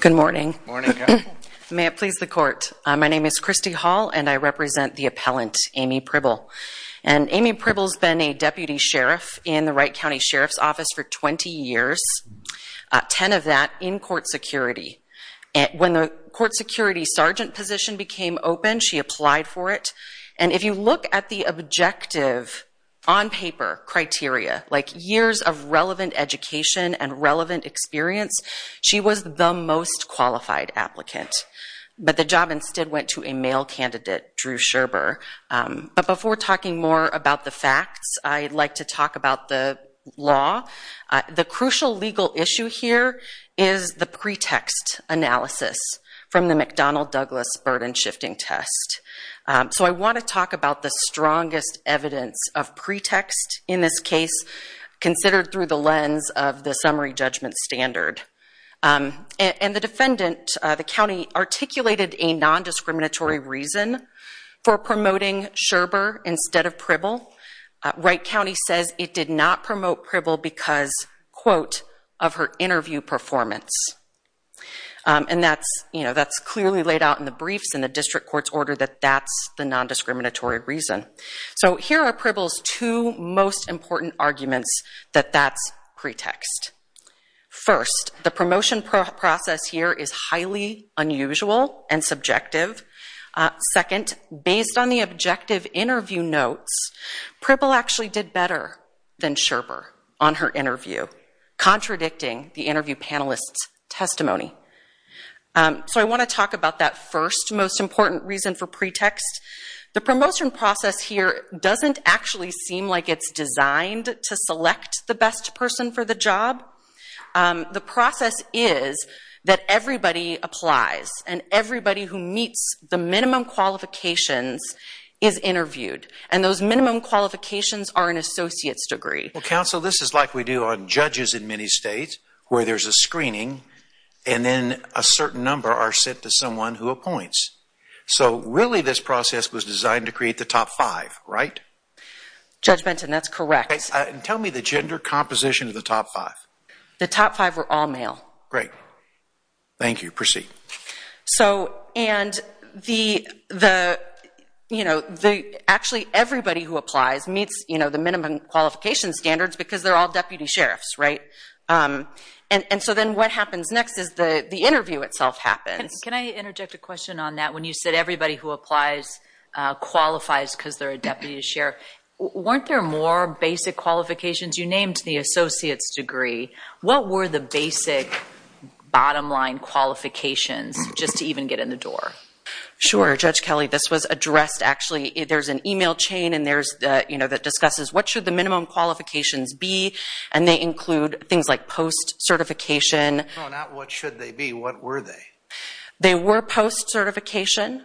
Good morning. May it please the court. My name is Christy Hall and I represent the appellant Amee Pribyl. Amee Pribyl has been a deputy sheriff in the Wright County Sheriff's Office for 20 years, 10 of that in court security. When the court security sergeant position became open, she applied for it. And if you look at the objective on paper criteria, like years of relevant education and relevant experience, she was the most qualified applicant. But the job instead went to a male candidate, Drew Sherber. But before talking more about the facts, I'd like to talk about the law. The crucial legal issue here is the pretext analysis from the McDonnell Douglas burden shifting test. So I want to talk about the strongest evidence of pretext in this case, considered through the lens of the summary judgment standard. And the defendant, the county, articulated a non-discriminatory reason for promoting Sherber instead of Pribyl. Wright County says it did not promote Pribyl because of her interview performance. And that's clearly laid out in the briefs and the district court's order that that's the non-discriminatory reason. So here are Pribyl's two most important arguments that that's pretext. First, the promotion process here is highly unusual and subjective. Second, based on the objective interview notes, Pribyl actually did better than Sherber on her interview, contradicting the interview panelist's testimony. So I want to talk about that first most important reason for pretext. The promotion process here doesn't actually seem like it's designed to select the best person for the job. The process is that everybody applies and everybody who meets the minimum qualifications is interviewed. And those minimum qualifications are an associate's degree. Well, counsel, this is like we do on judges in many states where there's a screening and then a certain number are sent to someone who appoints. So really this process was designed to create the top five, right? Judge Benton, that's correct. Tell me the gender composition of the top five. The top five were all male. Great. Thank you. Proceed. So and the, you know, actually everybody who applies meets, you know, the minimum qualification standards because they're all deputy sheriffs, right? And so then what happens next is the interview itself happens. Can I interject a question on that? When you said everybody who applies qualifies because they're a deputy sheriff, weren't there more basic qualifications? You named the associate's degree. What were the basic bottom line qualifications just to even get in the door? Sure. Judge Kelly, this was addressed actually. There's an email chain and there's, you know, that discusses what should the minimum qualifications be? And they include things like post certification. No, not what should they be. What were they? They were post certification.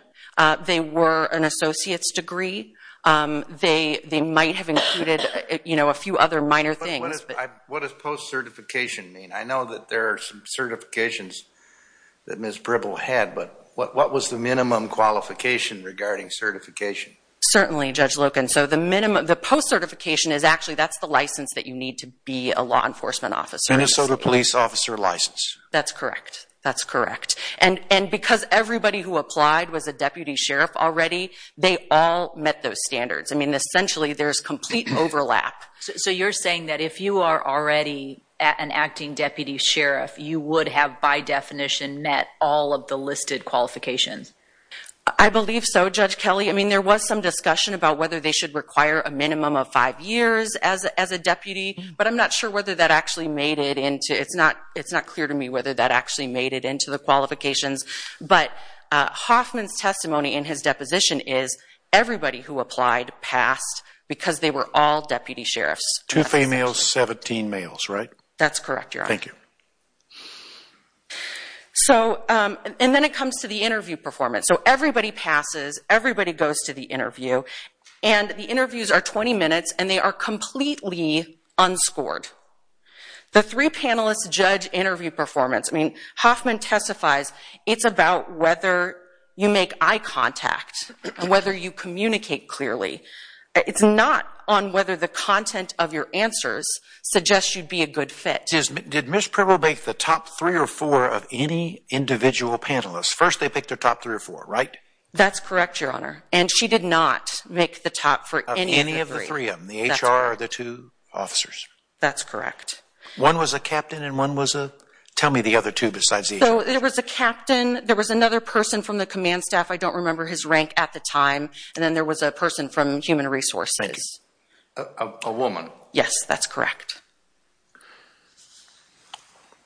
They were an associate's degree. They might have included, you know, a few other minor things. But what does post certification mean? I know that there are some certifications that Ms. Bribble had, but what was the minimum qualification regarding certification? Certainly, Judge Loken. So the minimum, the post certification is actually, that's the license that you need to be a law enforcement officer. Minnesota police officer license. That's correct. That's correct. And because everybody who applied was a deputy sheriff already, they all met those standards. I mean, essentially there's complete overlap. So you're saying that if you are already an acting deputy sheriff, you would have by definition met all of the listed qualifications? I believe so, Judge Kelly. I mean, there was some discussion about whether they should require a minimum of five years as a deputy, but I'm not sure whether that actually made it into, it's not clear to me whether that actually made it into the qualifications. But Hoffman's testimony in his deposition is everybody who all deputy sheriffs. Two females, 17 males, right? That's correct, Your Honor. Thank you. So, and then it comes to the interview performance. So everybody passes, everybody goes to the interview, and the interviews are 20 minutes and they are completely unscored. The three panelists judge interview performance. I mean, Hoffman testifies, it's about whether you make eye contact, whether you communicate clearly. It's not on whether the content of your answers suggest you'd be a good fit. Did Ms. Pribble make the top three or four of any individual panelists? First, they picked their top three or four, right? That's correct, Your Honor. And she did not make the top for any of the three. Of any of the three of them, the HR or the two officers? That's correct. One was a captain and one was a, tell me the other two besides the HR. So there was a captain, there was another person from the command staff, I don't remember his rank at the time, and then there was a person from human resources. A woman. Yes, that's correct.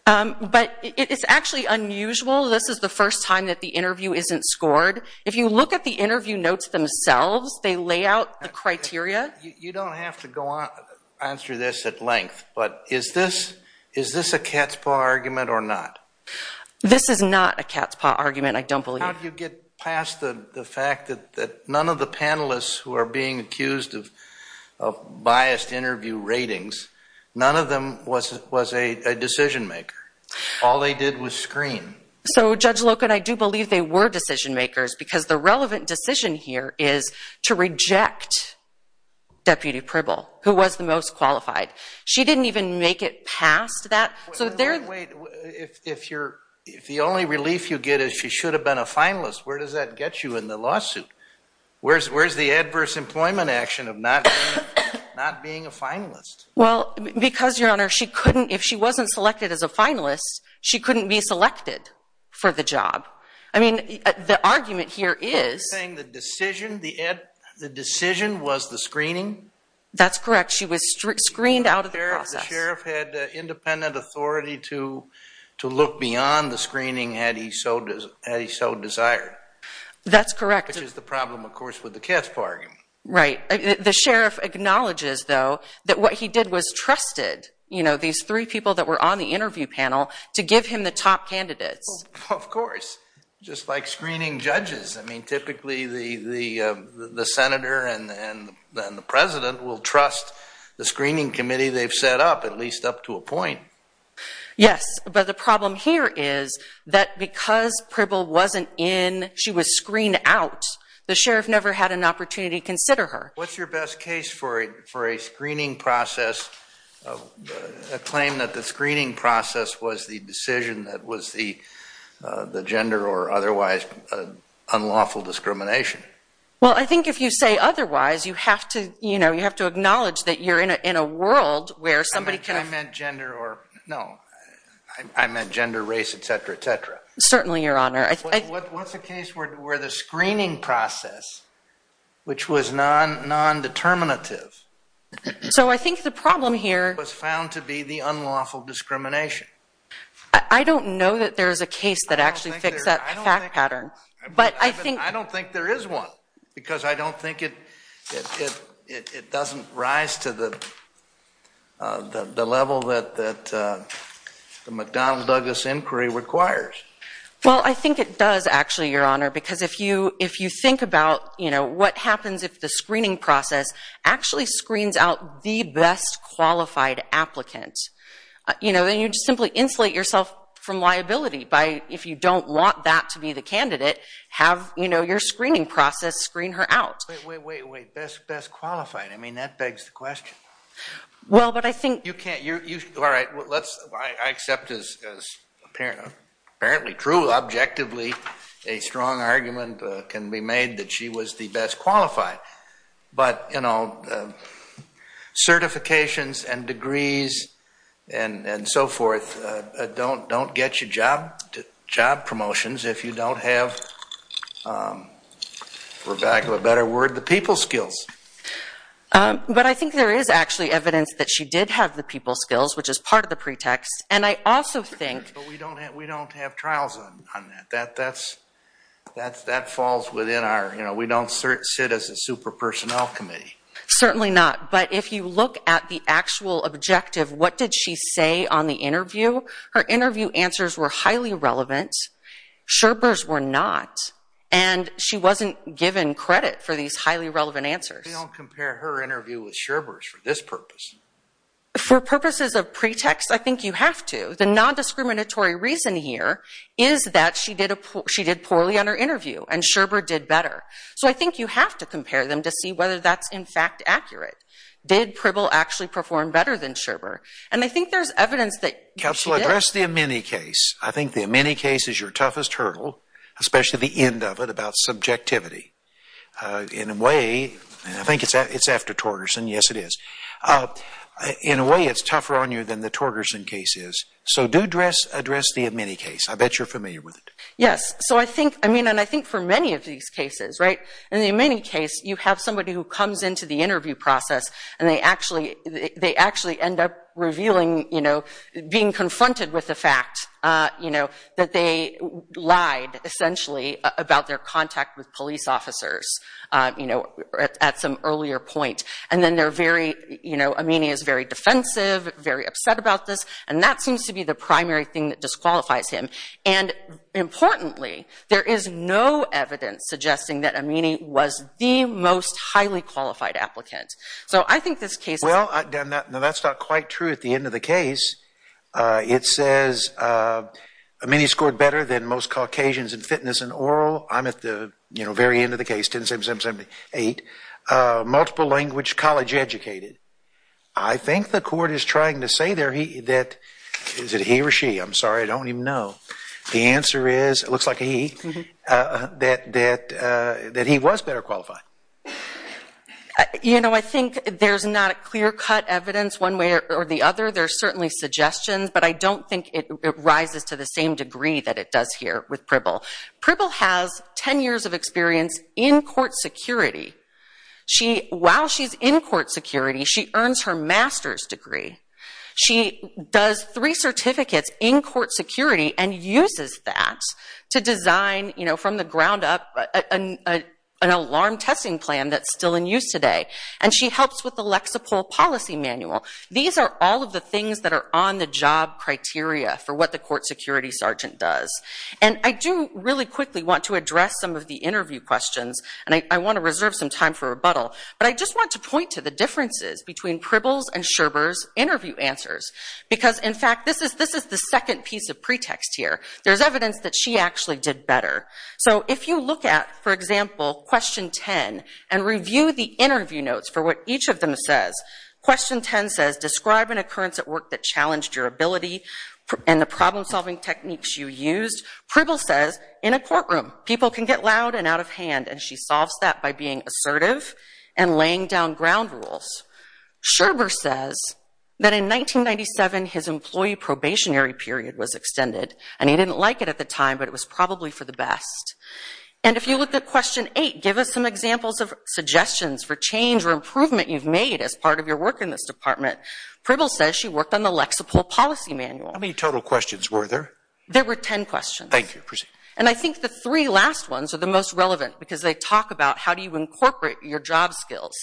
But it's actually unusual. This is the first time that the interview isn't scored. If you look at the interview notes themselves, they lay out the criteria. You don't have to go on through this at length, but is this a cat's paw argument or not? This is not a cat's paw argument, I don't believe. How do you get past the fact that none of the panelists who are being accused of biased interview ratings, none of them was a decision maker? All they did was screen. So, Judge Loken, I do believe they were decision makers because the relevant decision here is to reject Deputy Pribble, who was the most qualified. She didn't even make it past that. Wait, if the only relief you get is she should have been a finalist, where does that get you in the lawsuit? Where's the adverse employment action of not being a finalist? Well, because, Your Honor, she couldn't, if she wasn't selected as a finalist, she couldn't be selected for the job. I mean, the argument here is... Are you saying the decision, the decision was the screening? That's correct. She was screened out of the process. The sheriff had independent authority to look beyond the screening had he so desired. That's correct. Which is the problem, of course, with the cat's paw argument. Right. The sheriff acknowledges, though, that what he did was trusted, you know, these three people that were on the interview panel, to give him the top candidates. Of course, just like screening judges. I mean, typically the senator and the president will trust the screening committee they've set up, at least up to a point. Yes, but the problem here is that because Pribble wasn't in, she was screened out. The sheriff never had an opportunity to consider her. What's your best case for a screening process, a claim that the screening process was the decision that was the gender or otherwise unlawful discrimination? Well, I think if you say otherwise, you have to, you know, you have to acknowledge that you're in a world where somebody can... I meant gender or... No, I meant gender, race, et cetera, et cetera. Certainly, Your Honor. What's the case where the screening process, which was non-determinative... So I think the problem here... Was found to be the unlawful discrimination. I don't know that there is a case that actually fixed that fact pattern, but I think... Because I don't think it doesn't rise to the level that the McDonnell-Douglas inquiry requires. Well, I think it does actually, Your Honor, because if you think about, you know, what happens if the screening process actually screens out the best qualified applicants, you know, then you just simply insulate yourself from liability by... Wait, wait, wait, best qualified. I mean, that begs the question. Well, but I think... You can't... All right, well, let's... I accept this as apparently true. Objectively, a strong argument can be made that she was the best qualified, but, you know, certifications and degrees and so forth don't get you job promotions if you don't have, for lack of a better word, the people skills. But I think there is actually evidence that she did have the people skills, which is part of the pretext. And I also think... But we don't have trials on that. That falls within our... You know, we don't sit as a super personnel committee. Certainly not. But if you look at the actual objective, what did she say on the interview? Her interview answers were highly relevant. Scherber's were not. And she wasn't given credit for these highly relevant answers. We don't compare her interview with Scherber's for this purpose. For purposes of pretext, I think you have to. The non-discriminatory reason here is that she did poorly on her interview, and Scherber did better. So I think you have to compare them to see whether that's, in fact, accurate. Did Pribble actually perform better than Scherber? And I think there's evidence that she did. Counsel, address the Amini case. I think the Amini case is your toughest hurdle, especially the end of it about subjectivity. In a way... And I think it's after Torgerson. Yes, it is. In a way, it's tougher on you than the Torgerson case is. So do address the Amini case. I bet you're familiar with it. Yes. So I think... I mean, and I think for many of these cases, right? In the Amini case, you have somebody who comes into the interview process and they actually end up revealing, you know, being confronted with the fact, you know, that they lied, essentially, about their contact with police officers, you know, at some earlier point. And then they're very, you know, Amini is very defensive, very upset about this. And that seems to be the primary thing that disqualifies him. And importantly, there is no evidence suggesting that Amini was the most highly qualified applicant. So I think this case... No, that's not quite true. At the end of the case, it says Amini scored better than most Caucasians in fitness and oral. I'm at the, you know, very end of the case, 10-7-7-7-8. Multiple language, college educated. I think the court is trying to say there that... Is it he or she? I'm sorry, I don't even know. The answer is, it looks like a he, that he was better qualified. You know, I think there's not a clear-cut evidence one way or the other. There are certainly suggestions, but I don't think it rises to the same degree that it does here with Pribble. Pribble has 10 years of experience in court security. She, while she's in court security, she earns her master's degree. She does three certificates in court security and uses that to design, you know, from the ground up an alarm testing plan that's still in use today. And she helps with the Lexapro policy manual. These are all of the things that are on the job criteria for what the court security sergeant does. And I do really quickly want to address some of the interview questions. And I want to reserve some time for rebuttal. But I just want to point to the differences between Pribble's and Sherber's interview answers. Because, in fact, this is the second piece of pretext here. There's evidence that she actually did better. So if you look at, for example, question 10 and review the interview notes for what each of them says, question 10 says, describe an occurrence at work that challenged your ability and the problem-solving techniques you used. Pribble says, in a courtroom, people can get loud and out of hand. And she solves that by being assertive and laying down ground rules. Sherber says that, in 1997, his employee probationary period was extended. And he didn't like it at the time, but it was probably for the best. And if you look at question 8, give us some examples of suggestions for change or improvement you've made as part of your work in this department. Pribble says she worked on the Lexapro policy manual. How many total questions were there? There were 10 questions. Thank you. And I think the three last ones are the most relevant because they talk about how do you incorporate your job skills.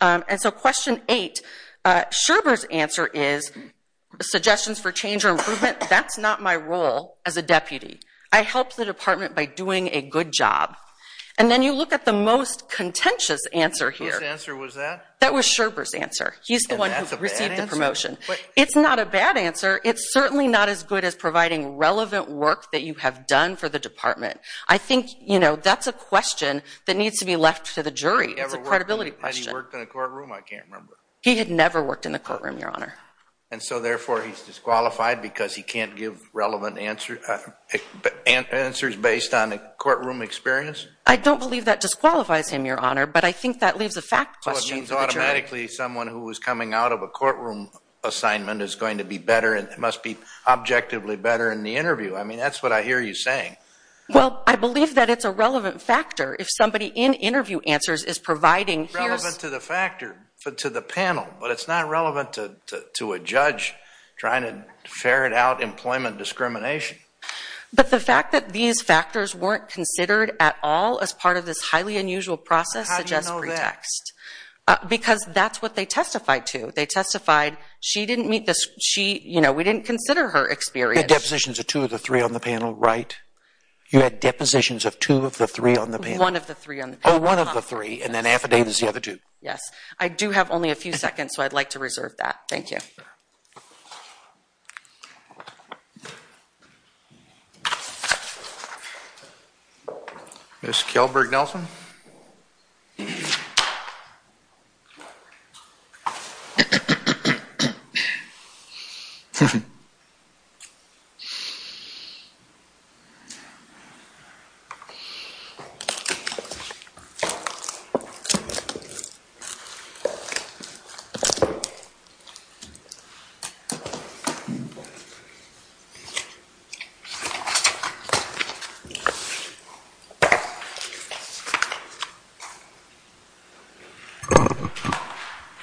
And so question 8, Sherber's answer is, suggestions for change or improvement, that's not my role as a deputy. I help the department by doing a good job. And then you look at the most contentious answer here. Whose answer was that? That was Sherber's answer. He's the one who received the promotion. It's not a bad answer. It's certainly not as good as providing relevant work that you have done for the department. I think, you know, that's a question that needs to be left to the jury. It's a credibility question. He worked in a courtroom, I can't remember. He had never worked in the courtroom, Your Honor. And so therefore, he's disqualified because he can't give relevant answers based on a courtroom experience? I don't believe that disqualifies him, Your Honor. But I think that leaves a fact question for the jury. Well, it means automatically someone who was coming out of a courtroom assignment is going to be better and must be objectively better in the interview. I mean, that's what I hear you saying. Well, I believe that it's a relevant factor. If somebody in interview answers is providing... It's relevant to the panel, but it's not relevant to a judge trying to ferret out employment discrimination. But the fact that these factors weren't considered at all as part of this highly unusual process suggests pretext. How do you know that? Because that's what they testified to. They testified she didn't meet the... She, you know, we didn't consider her experience. You had depositions of two of the three on the panel, right? You had depositions of two of the three on the panel? One of the three on the panel. Oh, one of the three, and then affidavits of the other two. Yes. I do have only a few seconds, so I'd like to reserve that. Thank you. Ms. Kelberg-Nelson? Thank you.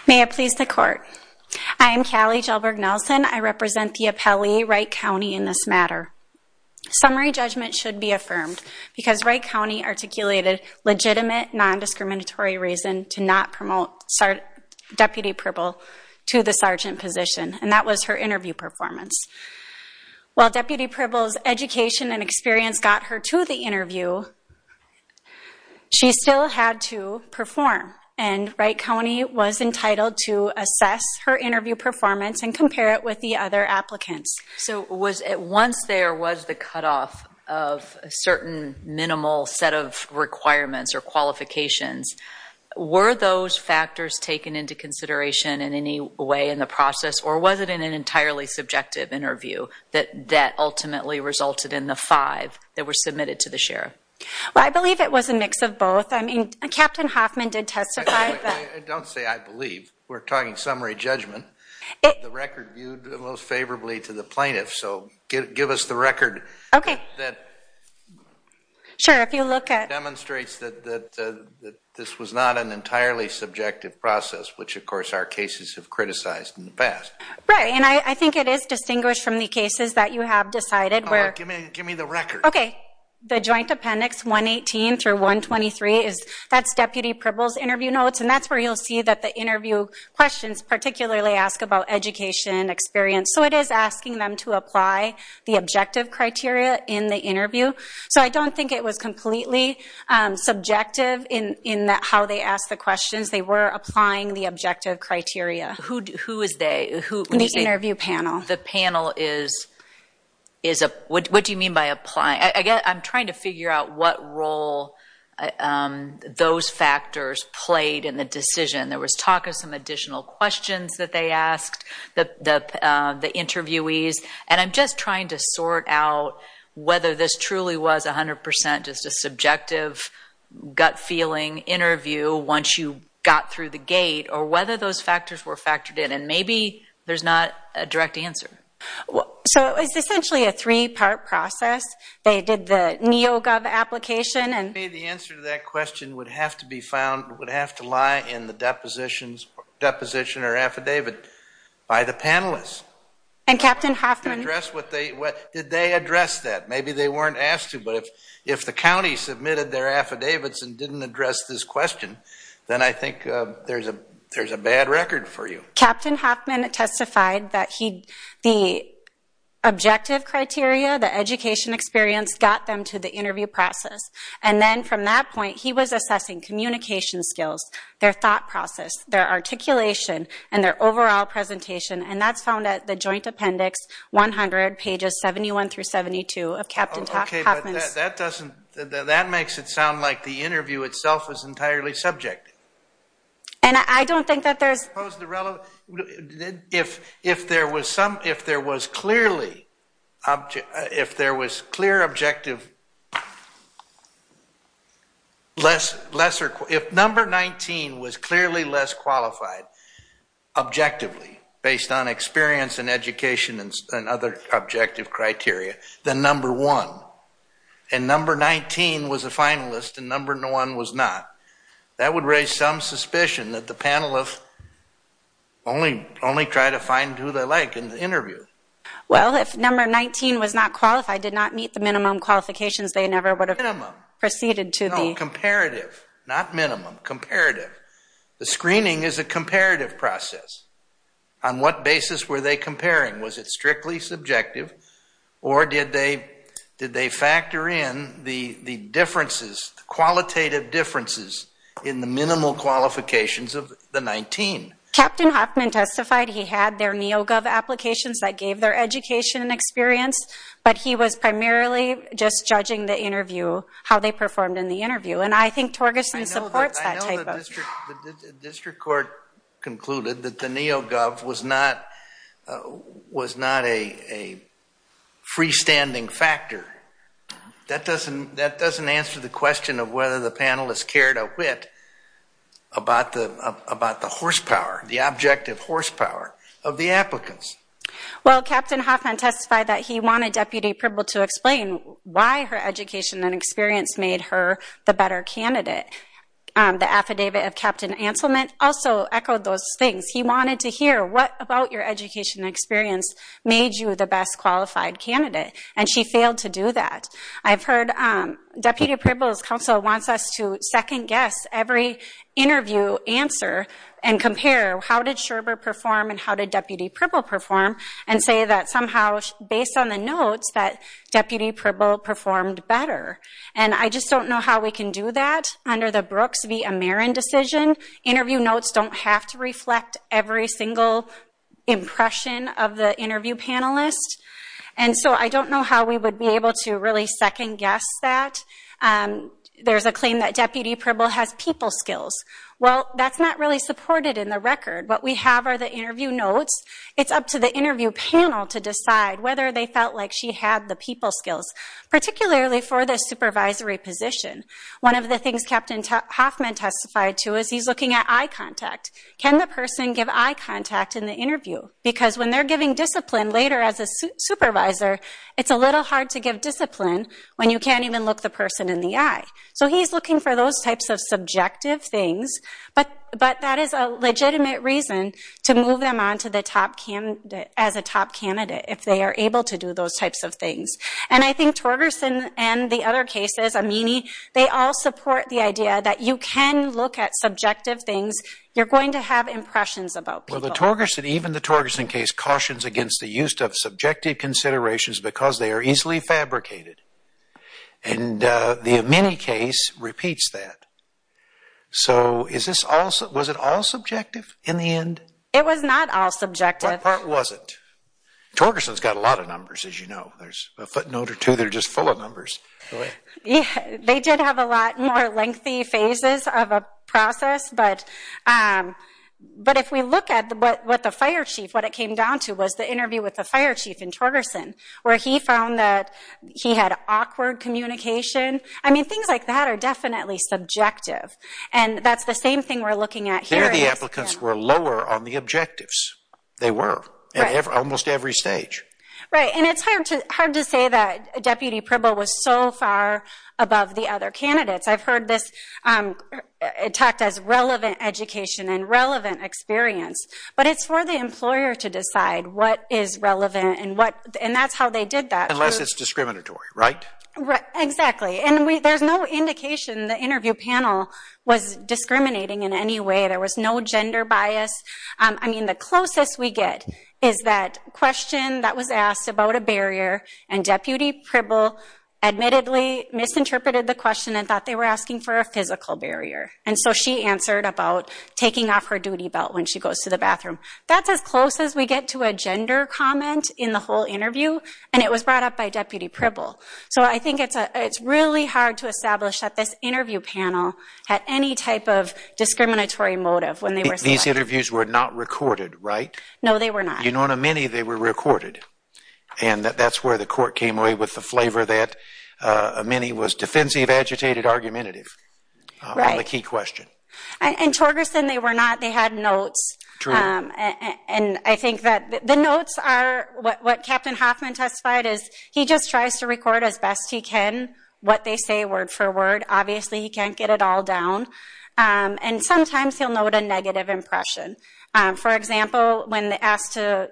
May it please the court. I am Callie Kelberg-Nelson. I represent the appellee, Wright County, in this matter. Summary judgment should be affirmed because Wright County articulated legitimate non-discriminatory reason to not promote Deputy Pribble to the sergeant position, and that was her interview performance. While Deputy Pribble's education and experience got her to the interview, she still had to perform, and Wright County was entitled to assess her interview performance and compare it with the other applicants. So, was it once there was the cutoff of a certain minimal set of requirements or qualifications, were those factors taken into consideration in any way in the process, or was it in an entirely subjective interview that that ultimately resulted in the five that were submitted to the sheriff? Well, I believe it was a mix of both. I mean, Captain Hoffman did testify. I don't say I believe. We're talking summary judgment. The record viewed most favorably to the plaintiff, so give us the record that demonstrates that this was not an entirely subjective process, which, of course, our cases have criticized in the past. Right, and I think it is distinguished from the cases that you have decided. Give me the record. Okay, the joint appendix 118 through 123, that's Deputy Pribble's interview notes, and that's where you'll see that the interview questions, particularly, ask about education and experience. So, it is asking them to apply the objective criteria in the interview. So, I don't think it was completely subjective in how they asked the questions. They were applying the objective criteria. Who is they? The interview panel. The panel is, what do you mean by applying? I'm trying to figure out what role those factors played in the decision. There was talk of some additional questions that they asked, the interviewees, and I'm just trying to sort out whether this truly was 100 percent just a subjective gut feeling interview once you got through the gate, or whether those factors were factored in, and maybe there's not a direct answer. So, it's essentially a three-part process. They did the NeoGov application, and— Maybe the answer to that question would have to be found, would have to lie in the deposition or affidavit by the panelists. And Captain Hoffman— Did they address that? Maybe they weren't asked to, but if the county submitted their affidavits and didn't address this question, then I think there's a bad record for you. Captain Hoffman testified that the objective criteria, the education experience, got them to the interview process, and then from that point, he was assessing communication skills, their thought process, their articulation, and their overall presentation, and that's found at the Joint Appendix 100, pages 71 through 72 of Captain Hoffman's— That doesn't—that makes it sound like the interview itself is entirely subjective. And I don't think that there's— Suppose the relevant—if there was some, if there was clearly, if there was clear objective— If number 19 was clearly less qualified, objectively, based on experience and education and other objective criteria, than number one, and number 19 was a finalist and number one was not, that would raise some suspicion that the panelists only try to find who they like in the interview. Well, if number 19 was not qualified, did not meet the minimum qualifications, they never would have proceeded to the— No, comparative, not minimum, comparative. The screening is a comparative process. On what basis were they comparing? Was it strictly subjective or did they factor in the differences, qualitative differences, in the minimal qualifications of the 19? Captain Hoffman testified he had their Neo-Gov applications that gave their education and experience, but he was primarily just judging the interview, how they performed in the interview. And I think Torgerson supports that type of— I know the district court concluded that the Neo-Gov was not a freestanding factor. About the horsepower, the objective horsepower of the applicants. Well, Captain Hoffman testified that he wanted Deputy Pribble to explain why her education and experience made her the better candidate. The affidavit of Captain Anselman also echoed those things. He wanted to hear what about your education and experience made you the best qualified candidate, and she failed to do that. I've heard Deputy Pribble's counsel wants us to second-guess every interview answer and compare how did Sherber perform and how did Deputy Pribble perform, and say that somehow, based on the notes, that Deputy Pribble performed better. And I just don't know how we can do that under the Brooks v. Ameron decision. Interview notes don't have to reflect every single impression of the interview panelist. And so I don't know how we would be able to really second-guess that. There's a claim that Deputy Pribble has people skills. Well, that's not really supported in the record. What we have are the interview notes. It's up to the interview panel to decide whether they felt like she had the people skills, particularly for the supervisory position. One of the things Captain Hoffman testified to is he's looking at eye contact. Can the person give eye contact in the interview? Because when they're giving discipline later as a supervisor, it's a little hard to give discipline when you can't even look the person in the eye. So he's looking for those types of subjective things. But that is a legitimate reason to move them on to the top candidate, as a top candidate, if they are able to do those types of things. And I think Torgerson and the other cases, Amini, they all support the idea that you can look at subjective things. You're going to have impressions about people. Even the Torgerson case cautions against the use of subjective considerations because they are easily fabricated. And the Amini case repeats that. So was it all subjective in the end? It was not all subjective. What part was it? Torgerson's got a lot of numbers, as you know. There's a footnote or two that are just full of numbers. They did have a lot more lengthy phases of a process. But if we look at what the fire chief, what it came down to, was the interview with the fire chief in Torgerson, where he found that he had awkward communication. I mean, things like that are definitely subjective. And that's the same thing we're looking at here. There, the applicants were lower on the objectives. They were at almost every stage. Right. And it's hard to say that Deputy Provo was so far above the other candidates. I've heard this talked as relevant education and relevant experience. But it's for the employer to decide what is relevant and that's how they did that. Unless it's discriminatory, right? Exactly. And there's no indication the interview panel was discriminating in any way. There was no gender bias. I mean, the closest we get is that question that was asked about a barrier and Deputy Provo admittedly misinterpreted the question and thought they were asking for a physical barrier. And so she answered about taking off her duty belt when she goes to the bathroom. That's as close as we get to a gender comment in the whole interview. And it was brought up by Deputy Provo. So I think it's really hard to establish that this interview panel had any type of discriminatory motive when they were selected. These interviews were not recorded, right? No, they were not. You know, in a mini, they were recorded. And that's where the court came away with the flavor that a mini was defensive, agitated, argumentative on the key question. And Torgerson, they were not. They had notes. And I think that the notes are what Captain Hoffman testified is he just tries to record as best he can what they say word for word. Obviously, he can't get it all down. And sometimes he'll note a negative impression. For example, when they asked to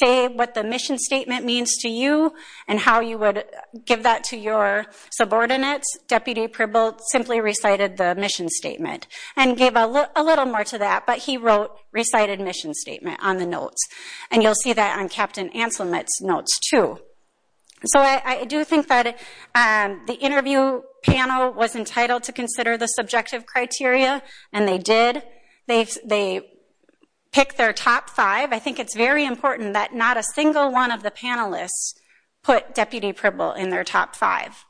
say what the mission statement means to you and how you would give that to your subordinates, Deputy Provo simply recited the mission statement and gave a little more to that. But he wrote recited mission statement on the notes. And you'll see that on Captain Anselm's notes, too. So I do think that the interview panel was entitled to consider the subjective criteria. And they did. They picked their top five. I think it's very important that not a single one of the panelists put Deputy Provo in their top five.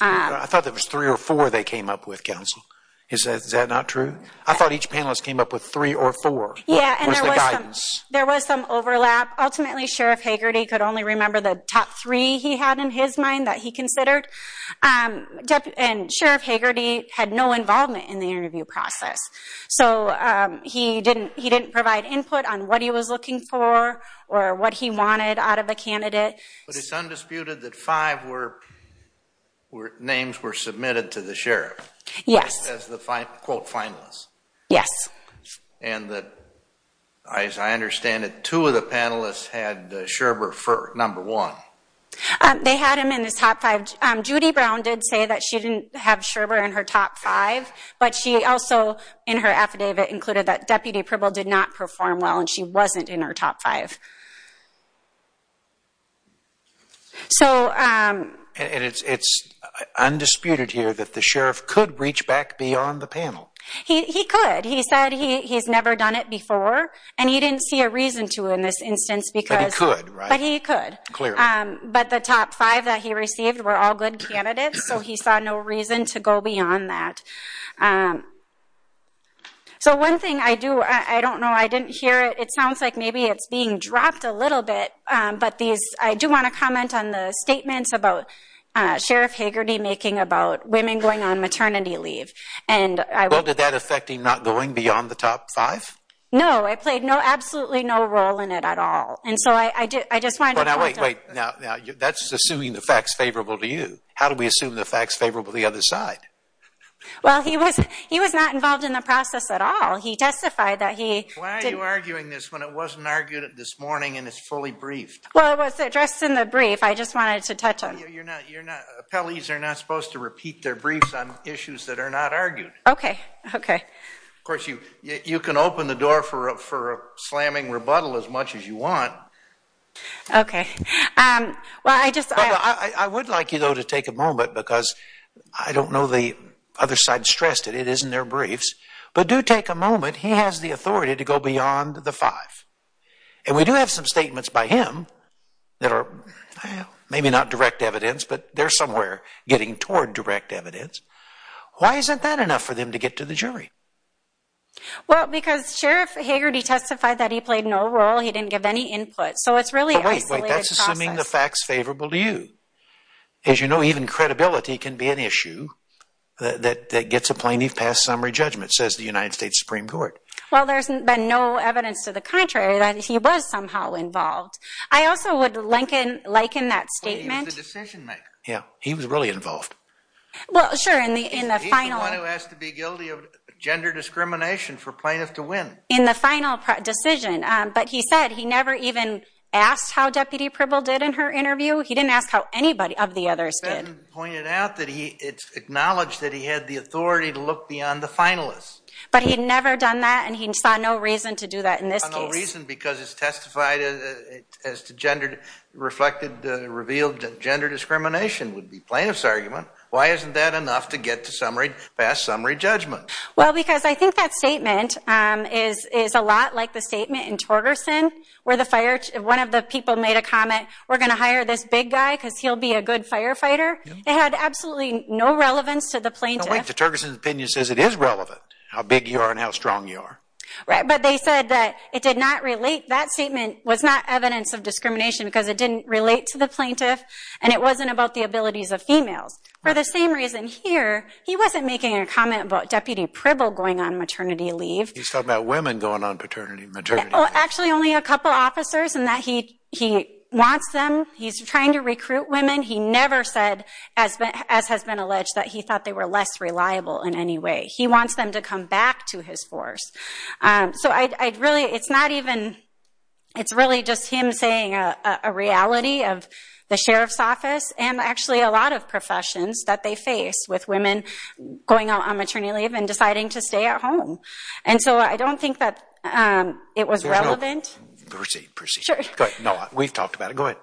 I thought there was three or four they came up with, Council. Is that not true? I thought each panelist came up with three or four. Yeah, and there was some overlap. Ultimately, Sheriff Hagerty could only remember the top three he had in his mind that he considered. And Sheriff Hagerty had no involvement in the interview process. So he didn't provide input on what he was looking for or what he wanted out of the candidate. But it's undisputed that five names were submitted to the sheriff. Yes. As the quote, finalists. Yes. And that, as I understand it, two of the panelists had Scherber for number one. They had him in his top five. Judy Brown did say that she didn't have Scherber in her top five. But she also, in her affidavit, included that Deputy Provo did not perform well and she wasn't in her top five. So. And it's undisputed here that the sheriff could reach back beyond the panel. He could. He said he's never done it before. And he didn't see a reason to in this instance because. But he could, right? But he could. Clearly. But the top five that he received were all good candidates. So he saw no reason to go beyond that. So one thing I do, I don't know, I didn't hear it. It sounds like maybe it's being dropped a little bit. But these, I do want to comment on the statements about Sheriff Hagerty making about women going on maternity leave. And I. Well, did that affect him not going beyond the top five? No, I played no, absolutely no role in it at all. And so I did. I just want to wait now. That's assuming the facts favorable to you. How do we assume the facts favorable the other side? Well, he was he was not involved in the process at all. He testified that he. Why are you arguing this when it wasn't argued this morning? And it's fully briefed. Well, it was addressed in the brief. I just wanted to touch on. You're not you're not. Appellees are not supposed to repeat their briefs on issues that are not argued. OK, OK. Of course, you you can open the door for for slamming rebuttal as much as you want. OK, well, I just I would like you, though, to take a moment because I don't know the other side stressed it. It isn't their briefs. But do take a moment. He has the authority to go beyond the five. And we do have some statements by him that are maybe not direct evidence, but they're somewhere getting toward direct evidence. Why isn't that enough for them to get to the jury? Well, because Sheriff Hagerty testified that he played no role. He didn't give any input. So it's really like that's assuming the facts favorable to you. As you know, even credibility can be an issue that gets a plaintiff past summary judgment, says the United States Supreme Court. Well, there's been no evidence to the contrary that he was somehow involved. I also would like in like in that statement, the decision maker. Yeah, he was really involved. Well, sure. And the in the final one who has to be guilty of gender discrimination for plaintiff to win in the final decision. But he said he never even asked how Deputy Pribble did in her interview. He didn't ask how anybody of the others did pointed out that he it's acknowledged that he had the authority to look beyond the finalists. But he'd never done that. And he saw no reason to do that in this case. No reason because it's testified as to gender reflected, revealed gender discrimination would be plaintiff's argument. Why isn't that enough to get to summary past summary judgment? Well, because I think that statement is is a lot like the statement in Torgerson, where the fire, one of the people made a comment. We're going to hire this big guy because he'll be a good firefighter. They had absolutely no relevance to the plaintiff. The Torgerson's opinion says it is relevant how big you are and how strong you are. Right. But they said that it did not relate. That statement was not evidence of discrimination because it didn't relate to the plaintiff. And it wasn't about the abilities of females. For the same reason here, he wasn't making a comment about Deputy Pribble going on maternity leave. He's talking about women going on paternity maternity. Oh, actually, only a couple of officers and that he he wants them. He's trying to recruit women. He never said, as has been alleged, that he thought they were less reliable in any way. He wants them to come back to his force. So I really it's not even it's really just him saying a reality of the sheriff's office and actually a lot of professions that they face with women going out on maternity leave and deciding to stay at home. And so I don't think that it was relevant. Good. No, we've talked about it. Go ahead.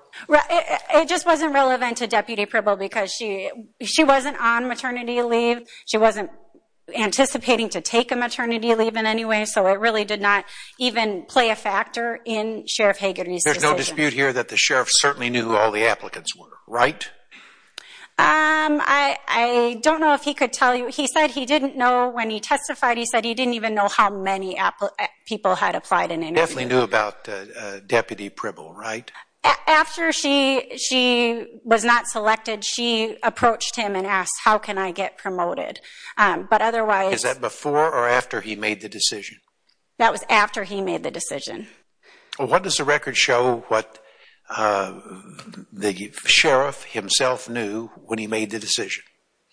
It just wasn't relevant to Deputy Pribble because she she wasn't on maternity leave. She wasn't anticipating to take a maternity leave in any way. So it really did not even play a factor in Sheriff Hagerty. There's no dispute here that the sheriff certainly knew who all the applicants were, right? I don't know if he could tell you. He said he didn't know when he testified. He said he didn't even know how many people had applied. And he definitely knew about Deputy Pribble, right? After she she was not selected, she approached him and asked, how can I get promoted? But otherwise. Is that before or after he made the decision? That was after he made the decision. What does the record show what the sheriff himself knew when he made the decision?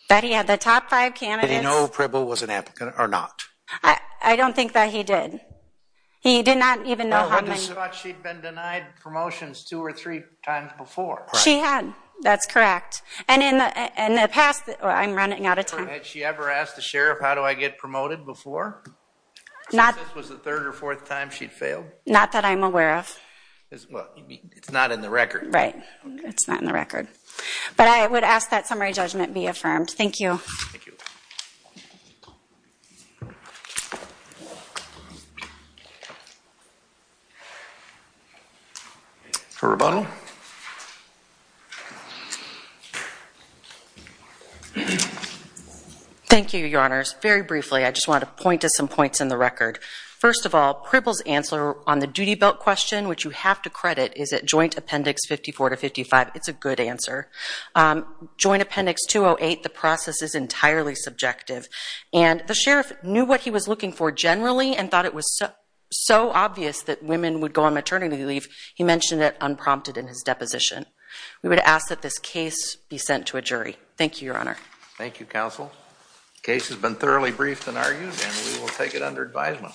That he had the top five candidates. Did he know Pribble was an applicant or not? I don't think that he did. He did not even know. She'd been denied promotions two or three times before. She had. That's correct. And in the past, I'm running out of time. Had she ever asked the sheriff, how do I get promoted before? Not. This was the third or fourth time she'd failed. Not that I'm aware of. It's not in the record. Right. It's not in the record. But I would ask that summary judgment be affirmed. Thank you. For rebuttal. Thank you, Your Honors. Very briefly, I just want to point to some points in the record. First of all, Pribble's answer on the duty belt question, which you have to credit, is at Joint Appendix 54 to 55. It's a good answer. Joint Appendix 208, the process is entirely subjective. And the sheriff knew what he was looking for generally and thought it was so obvious that women would go on maternity leave, he mentioned it unprompted in his deposition. We would ask that this case be sent to a jury. Thank you, Your Honor. Thank you, counsel. The case has been thoroughly briefed and argued, and we will take it under advisement. Thank you.